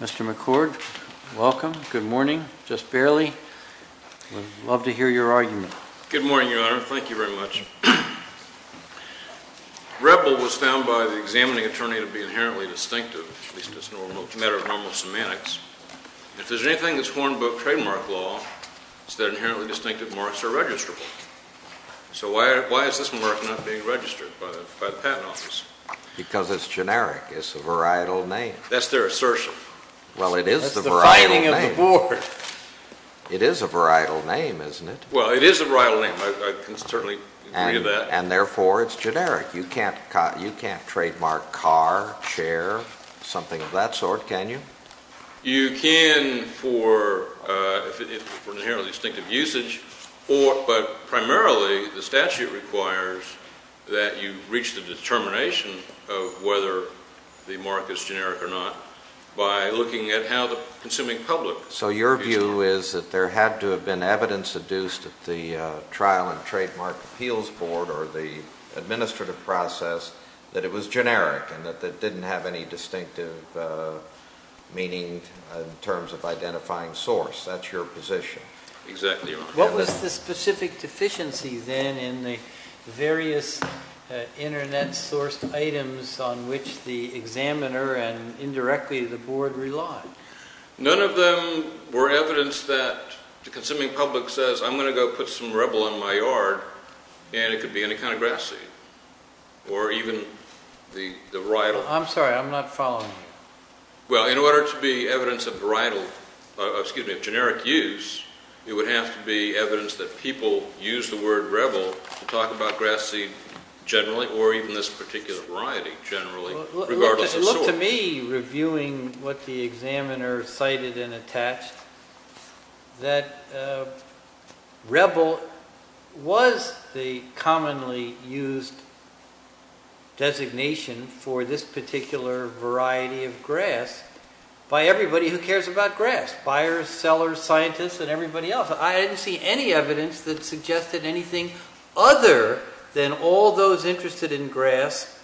Mr. McCord, welcome. Good morning. Just barely. We'd love to hear your argument. Good morning, Your Honor. Thank you very much. REPL was found by the examining attorney to be inherently distinctive, at least as a matter of normal semantics. If there's anything that's horned about trademark law, it's that inherently distinctive marks are registrable. So why is this mark not being registered by the Patent Office? Because it's generic. It's a varietal name. That's their assertion. Well, it is the varietal name. That's the fighting of the board. It is a varietal name, isn't it? Well, it is a varietal name. I can certainly agree with that. And therefore, it's generic. You can't trademark car, chair, something of that sort, can you? You can for inherently distinctive usage, but primarily the statute requires that you reach the determination of whether the mark is generic or not by looking at how the consuming public views it. So your view is that there had to have been evidence adduced at the Trial and Trademark Appeals Board or the administrative process that it was generic and that it didn't have any distinctive meaning in terms of identifying source. That's your position. Exactly, Your Honor. What was the specific deficiency, then, in the various internet-sourced items on which the examiner and indirectly the board relied? None of them were evidence that the consuming public says, I'm going to go put some rebel in my yard, and it could be any kind of grass seed or even the varietal. I'm sorry. I'm not following you. Well, in order to be evidence of varietal, excuse me, of generic use, it would have to be evidence that people use the word rebel to talk about grass seed generally or even this particular variety generally, regardless of source. It was simple to me, reviewing what the examiner cited and attached, that rebel was the commonly used designation for this particular variety of grass by everybody who cares about grass, buyers, sellers, scientists, and everybody else. I didn't see any evidence that suggested anything other than all those interested in grass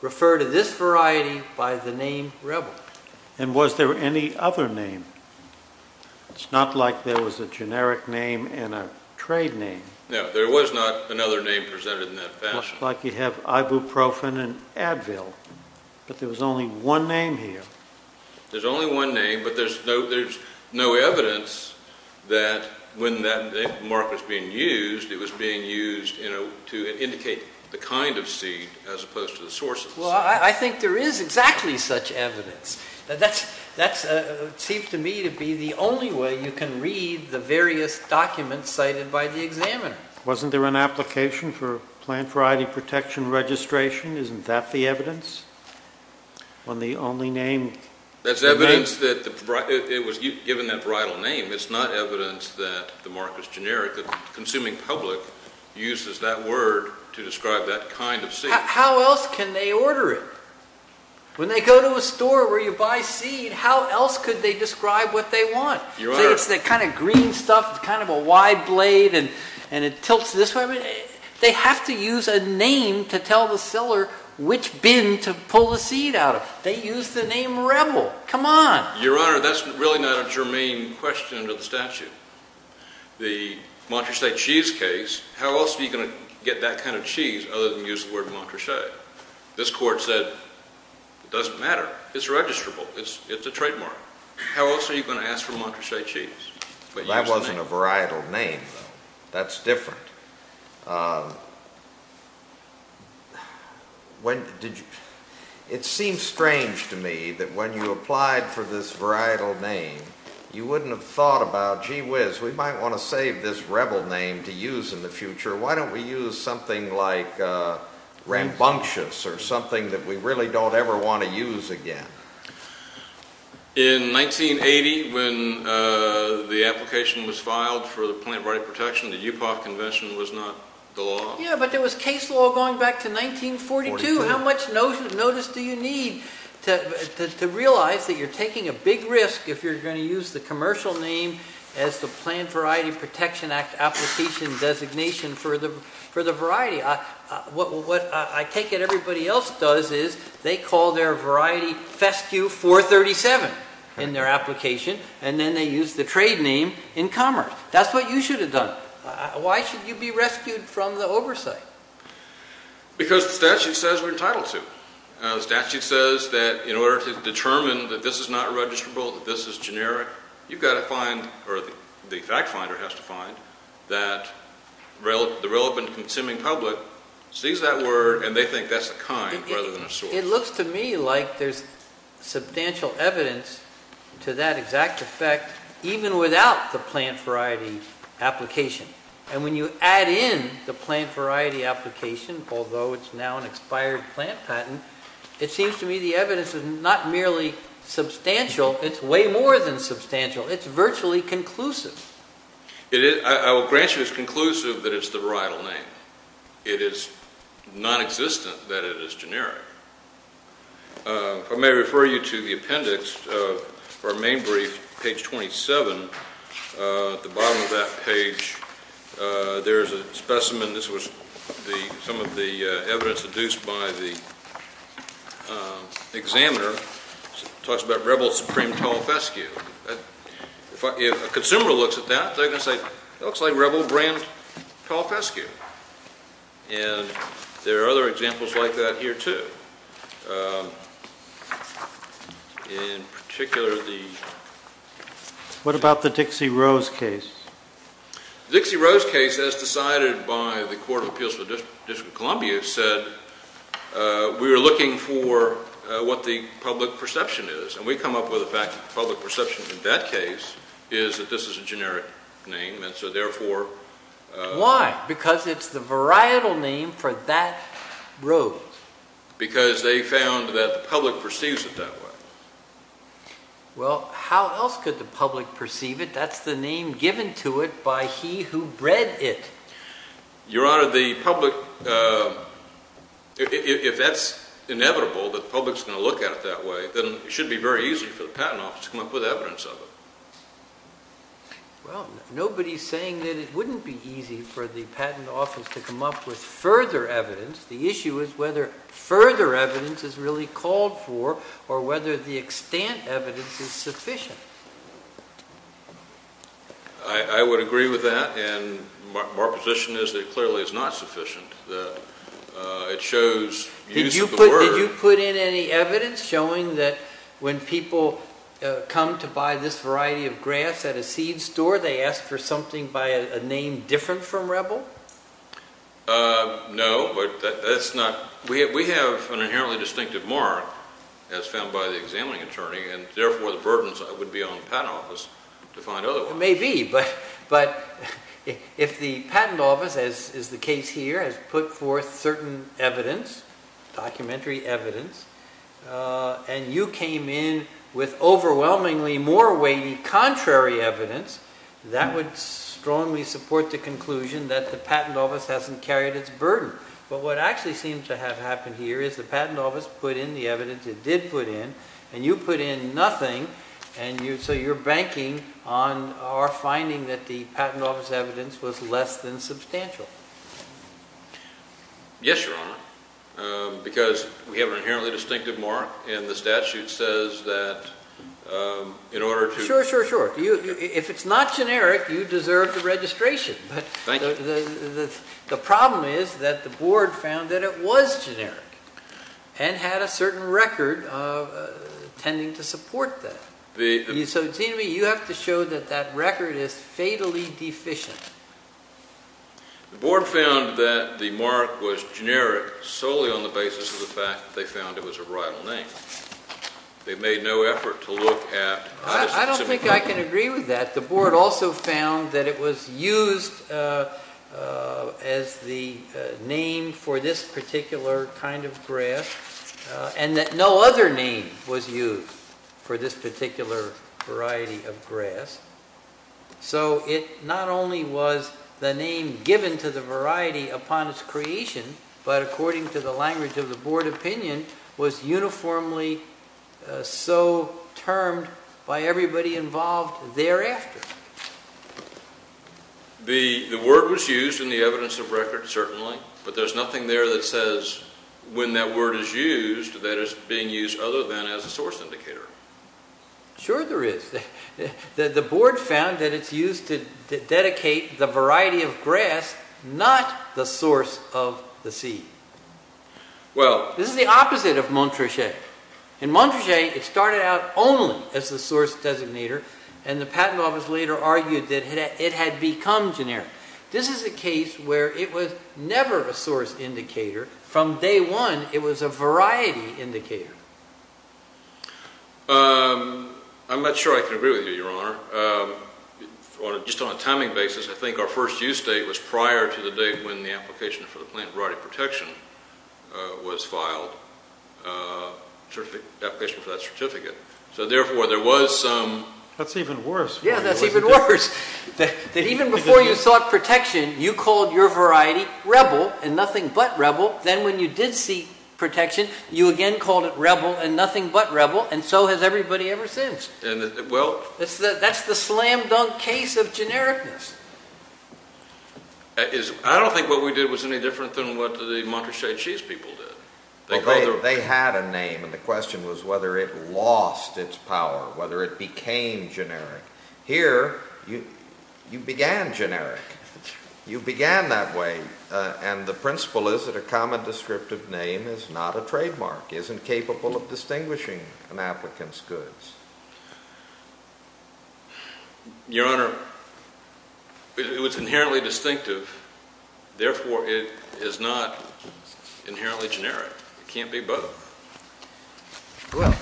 refer to this variety by the name rebel. And was there any other name? It's not like there was a generic name and a trade name. No, there was not another name presented in that fashion. Much like you have ibuprofen and Advil, but there was only one name here. There's only one name, but there's no evidence that when that mark was being used, it was being used to indicate the kind of seed as opposed to the source of the seed. Well, I think there is exactly such evidence. That seems to me to be the only way you can read the various documents cited by the examiner. Wasn't there an application for plant variety protection registration? Isn't that the evidence? That's evidence that it was given that bridal name. It's not evidence that the mark was generic. The consuming public uses that word to describe that kind of seed. How else can they order it? When they go to a store where you buy seed, how else could they describe what they want? It's the kind of green stuff, kind of a wide blade, and it tilts this way. They have to use a name to tell the seller which bin to pull the seed out of. They use the name rebel. Come on. Your Honor, that's really not a germane question to the statute. The Montrachet cheese case, how else are you going to get that kind of cheese other than use the word Montrachet? This Court said it doesn't matter. It's registrable. It's a trademark. How else are you going to ask for Montrachet cheese but use the name? That wasn't a varietal name, though. That's different. It seems strange to me that when you applied for this varietal name, you wouldn't have thought about, gee whiz, we might want to save this rebel name to use in the future. Why don't we use something like rambunctious or something that we really don't ever want to use again? In 1980, when the application was filed for the Plant Variety Protection, the UPAF Convention was not the law. Yeah, but there was case law going back to 1942. How much notice do you need to realize that you're taking a big risk if you're going to use the commercial name as the Plant Variety Protection Act application designation for the variety? What I take it everybody else does is they call their variety Fescue 437 in their application, and then they use the trade name in commerce. That's what you should have done. Why should you be rescued from the oversight? Because the statute says we're entitled to. The statute says that in order to determine that this is not registrable, that this is generic, you've got to find, or the fact finder has to find, that the relevant consuming public sees that word and they think that's a kind rather than a source. It looks to me like there's substantial evidence to that exact effect even without the plant variety application. And when you add in the plant variety application, although it's now an expired plant patent, it seems to me the evidence is not merely substantial, it's way more than substantial. It's virtually conclusive. I will grant you it's conclusive that it's the varietal name. It is nonexistent that it is generic. I may refer you to the appendix of our main brief, page 27. At the bottom of that page, there's a specimen. This was some of the evidence deduced by the examiner. It talks about Rebel Supreme Tall Fescue. If a consumer looks at that, they're going to say it looks like Rebel brand tall fescue. And there are other examples like that here, too. In particular, the- What about the Dixie Rose case? The Dixie Rose case, as decided by the Court of Appeals for the District of Columbia, said we were looking for what the public perception is. And we come up with the fact that the public perception in that case is that this is a generic name. And so, therefore- Why? Because it's the varietal name for that rose. Because they found that the public perceives it that way. Well, how else could the public perceive it? That's the name given to it by he who bred it. Your Honor, the public- If that's inevitable, that the public's going to look at it that way, then it should be very easy for the Patent Office to come up with evidence of it. Well, nobody's saying that it wouldn't be easy for the Patent Office to come up with further evidence. The issue is whether further evidence is really called for or whether the extent evidence is sufficient. I would agree with that. And my position is that it clearly is not sufficient. It shows use of the word- Did you put in any evidence showing that when people come to buy this variety of grass at a seed store, they ask for something by a name different from rebel? No, but that's not- We have an inherently distinctive mark as found by the examining attorney, and therefore the burdens would be on the Patent Office to find other ones. It may be, but if the Patent Office, as is the case here, has put forth certain evidence, documentary evidence, and you came in with overwhelmingly more weighty contrary evidence, that would strongly support the conclusion that the Patent Office hasn't carried its burden. But what actually seems to have happened here is the Patent Office put in the evidence it did put in, and you put in nothing, and so you're banking on our finding that the Patent Office evidence was less than substantial. Yes, Your Honor, because we have an inherently distinctive mark, and the statute says that in order to- If it's not generic, you deserve the registration. Thank you. The problem is that the Board found that it was generic, and had a certain record of tending to support that. So it seems to me you have to show that that record is fatally deficient. The Board found that the mark was generic solely on the basis of the fact that they found it was a rival name. They made no effort to look at- I don't think I can agree with that. The Board also found that it was used as the name for this particular kind of grass, and that no other name was used for this particular variety of grass. So it not only was the name given to the variety upon its creation, but according to the language of the Board opinion, was uniformly so termed by everybody involved thereafter. The word was used in the evidence of record, certainly, but there's nothing there that says when that word is used, that it's being used other than as a source indicator. Sure there is. The Board found that it's used to dedicate the variety of grass, not the source of the seed. This is the opposite of Montrachet. In Montrachet, it started out only as the source designator, and the Patent Office later argued that it had become generic. This is a case where it was never a source indicator. From day one, it was a variety indicator. I'm not sure I can agree with you, Your Honor. Just on a timing basis, I think our first use date was prior to the date when the application for the Plant Variety Protection was filed, the application for that certificate. So therefore, there was some... That's even worse. Yeah, that's even worse, that even before you sought protection, you called your variety Rebel, and nothing but Rebel. Then when you did seek protection, you again called it Rebel, and nothing but Rebel, and so has everybody ever since. That's the slam-dunk case of genericness. I don't think what we did was any different than what the Montrachet cheese people did. They had a name, and the question was whether it lost its power, whether it became generic. Here, you began generic. You began that way, and the principle is that a common descriptive name is not a trademark, isn't capable of distinguishing an applicant's goods. Your Honor, it was inherently distinctive. Therefore, it is not inherently generic. It can't be both. Well,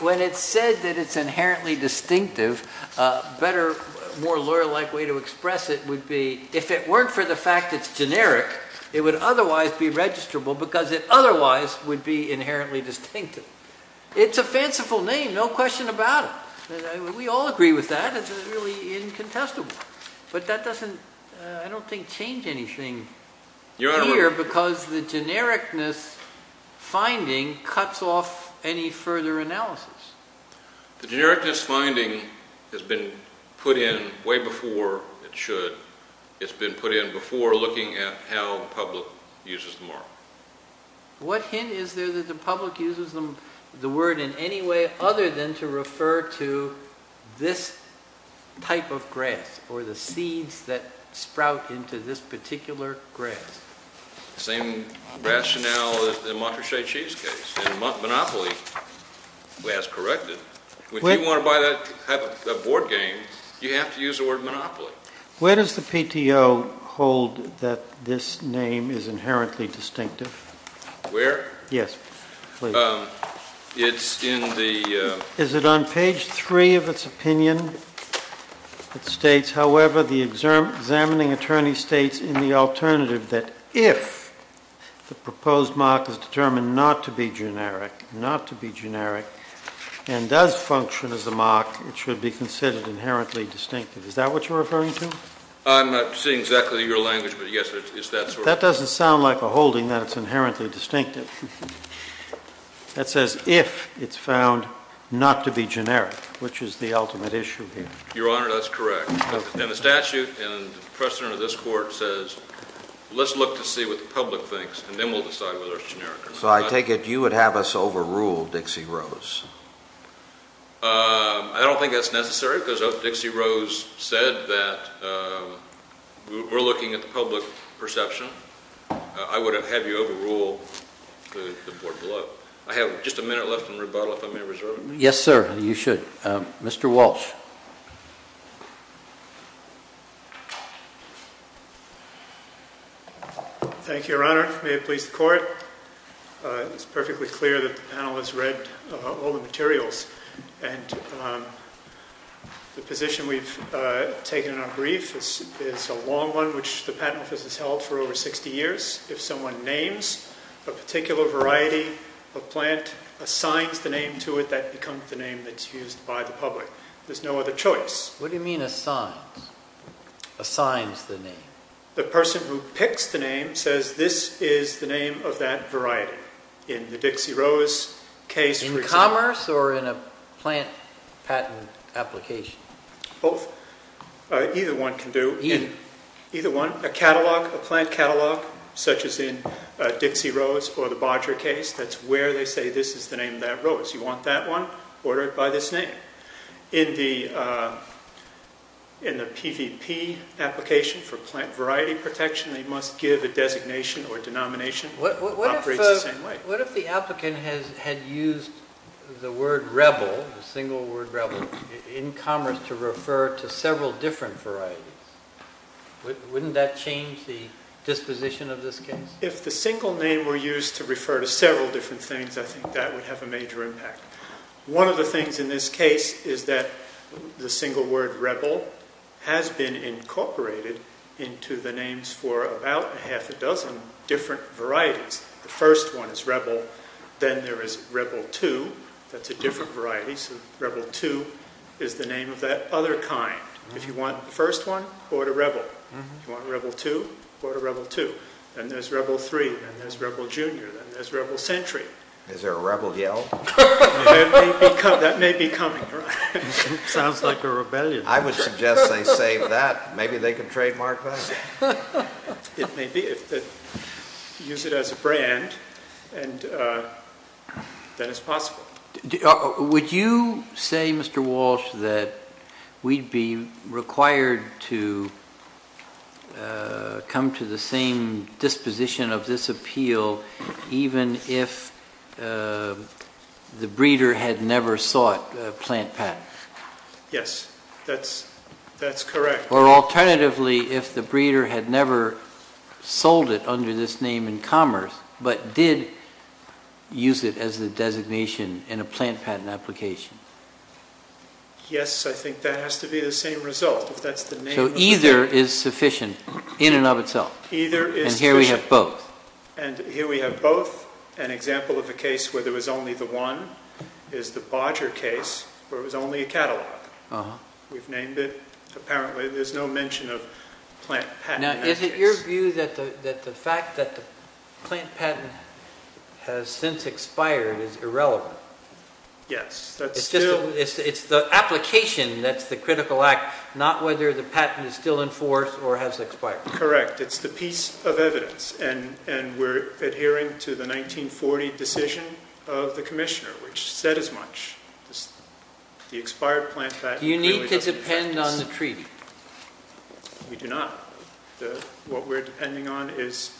when it's said that it's inherently distinctive, a better, more lawyer-like way to express it would be if it weren't for the fact it's generic, it would otherwise be registrable because it otherwise would be inherently distinctive. It's a fanciful name, no question about it. We all agree with that. It's really incontestable. But that doesn't, I don't think, change anything here because the genericness finding cuts off any further analysis. The genericness finding has been put in way before it should. It's been put in before looking at how the public uses the mark. What hint is there that the public uses the word in any way other than to refer to this type of grass or the seeds that sprout into this particular grass? The same rationale as the Montrachet Cheesecakes. Monopoly has corrected. If you want to buy that type of board game, you have to use the word monopoly. Where does the PTO hold that this name is inherently distinctive? Where? Yes, please. It's in the... Is it on page 3 of its opinion that states, however, the examining attorney states in the alternative that if the proposed mark is determined not to be generic and does function as a mark, it should be considered inherently distinctive. Is that what you're referring to? I'm not seeing exactly your language, but yes, it's that sort of... That doesn't sound like a holding that it's inherently distinctive. That says if it's found not to be generic, which is the ultimate issue here. Your Honor, that's correct. And the statute and precedent of this Court says, let's look to see what the public thinks and then we'll decide whether it's generic or not. So I take it you would have us overrule Dixie Rose? I don't think that's necessary, because if Dixie Rose said that we're looking at the public perception, I would have had you overrule the board below. I have just a minute left in rebuttal if I may reserve it. Yes, sir, you should. Mr. Walsh. Thank you, Your Honor. May it please the Court. It's perfectly clear that the panel has read all the materials. And the position we've taken in our brief is a long one, which the Patent Office has held for over 60 years. If someone names a particular variety of plant, assigns the name to it, that becomes the name that's used by the public. There's no other choice. What do you mean, assigns? Assigns the name? The person who picks the name says this is the name of that variety. In the Dixie Rose case, for example. In commerce or in a plant patent application? Both. Either one can do. Either? Either one. A catalog, a plant catalog, such as in Dixie Rose or the Bodger case, that's where they say this is the name of that rose. You want that one, order it by this name. In the PVP application for plant variety protection, they must give a designation or a denomination that operates the same way. What if the applicant had used the word rebel, the single word rebel, in commerce to refer to several different varieties? Wouldn't that change the disposition of this case? If the single name were used to refer to several different things, I think that would have a major impact. One of the things in this case is that the single word rebel has been incorporated into the names for about half a dozen different varieties. The first one is rebel. Then there is rebel 2. That's a different variety. So rebel 2 is the name of that other kind. If you want the first one, order rebel. If you want rebel 2, order rebel 2. Then there's rebel 3. Then there's rebel junior. Then there's rebel century. Is there a rebel yell? That may be coming. Sounds like a rebellion. I would suggest they save that. Maybe they can trademark that. It may be. Use it as a brand, and then it's possible. Would you say, Mr. Walsh, that we'd be required to come to the same disposition of this appeal even if the breeder had never sought a plant patent? Yes, that's correct. Or alternatively, if the breeder had never sold it under this name in commerce but did use it as the designation in a plant patent application? Yes, I think that has to be the same result. So either is sufficient in and of itself. Either is sufficient. And here we have both. An example of a case where there was only the one is the Bodger case, where it was only a catalog. We've named it. Apparently there's no mention of plant patent. Now, is it your view that the fact that the plant patent has since expired is irrelevant? Yes. It's the application that's the critical act, not whether the patent is still in force or has expired. Correct. It's the piece of evidence. And we're adhering to the 1940 decision of the commissioner, which said as much. The expired plant patent clearly doesn't affect this. Do you need to depend on the treaty? We do not. What we're depending on is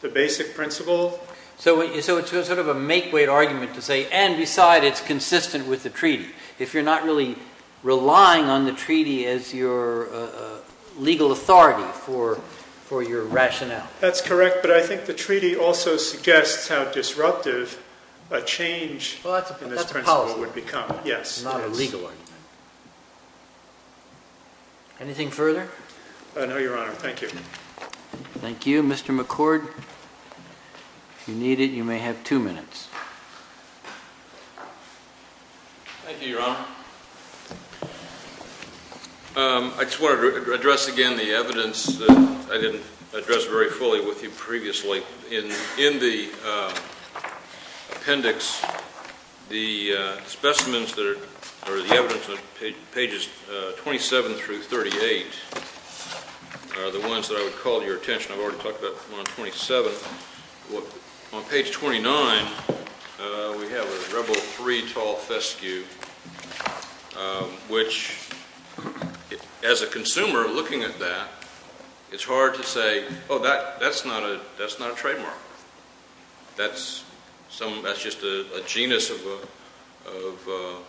the basic principle. So it's sort of a make-weight argument to say, and beside it's consistent with the treaty, if you're not really relying on the treaty as your legal authority for your rationale. That's correct. But I think the treaty also suggests how disruptive a change in this principle would become. Yes. Not a legal argument. Anything further? No, Your Honor. Thank you. Thank you. Mr. McCord, if you need it, you may have two minutes. Thank you, Your Honor. I just want to address again the evidence that I didn't address very fully with you previously. In the appendix, the specimens that are the evidence on pages 27 through 38 are the ones that I would call to your attention. I've already talked about one on 27. On page 29, we have a rebel three-tall fescue, which as a consumer looking at that, it's hard to say, oh, that's not a trademark. That's just a genus of the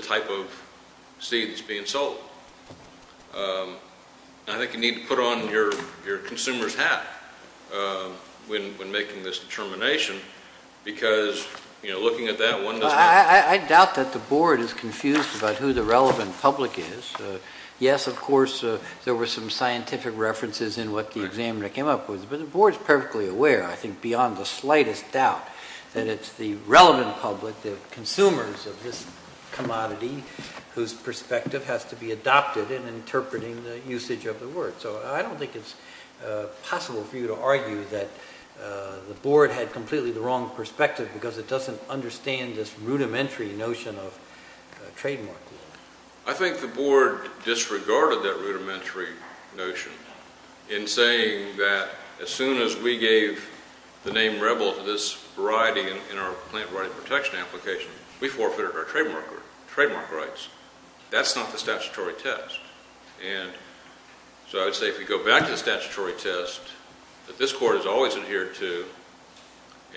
type of seed that's being sold. I think you need to put on your consumer's hat when making this determination because looking at that, one does not know. I doubt that the Board is confused about who the relevant public is. Yes, of course, there were some scientific references in what the examiner came up with, but the Board is perfectly aware, I think beyond the slightest doubt, that it's the relevant public, the consumers of this commodity whose perspective has to be adopted in interpreting the usage of the word. So I don't think it's possible for you to argue that the Board had completely the wrong perspective because it doesn't understand this rudimentary notion of trademark. I think the Board disregarded that rudimentary notion in saying that as soon as we gave the name rebel to this variety in our plant variety protection application, we forfeited our trademark rights. That's not the statutory test. And so I would say if you go back to the statutory test that this Court has always adhered to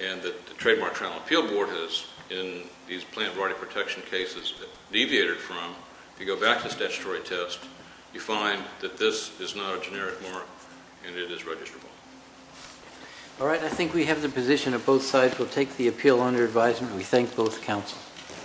and that the Trademark Trial and Appeal Board has in these plant variety protection cases deviated from, if you go back to the statutory test, you find that this is not a generic mark and it is registrable. All right, I think we have the position of both sides. We'll take the appeal under advisement. We thank both councils.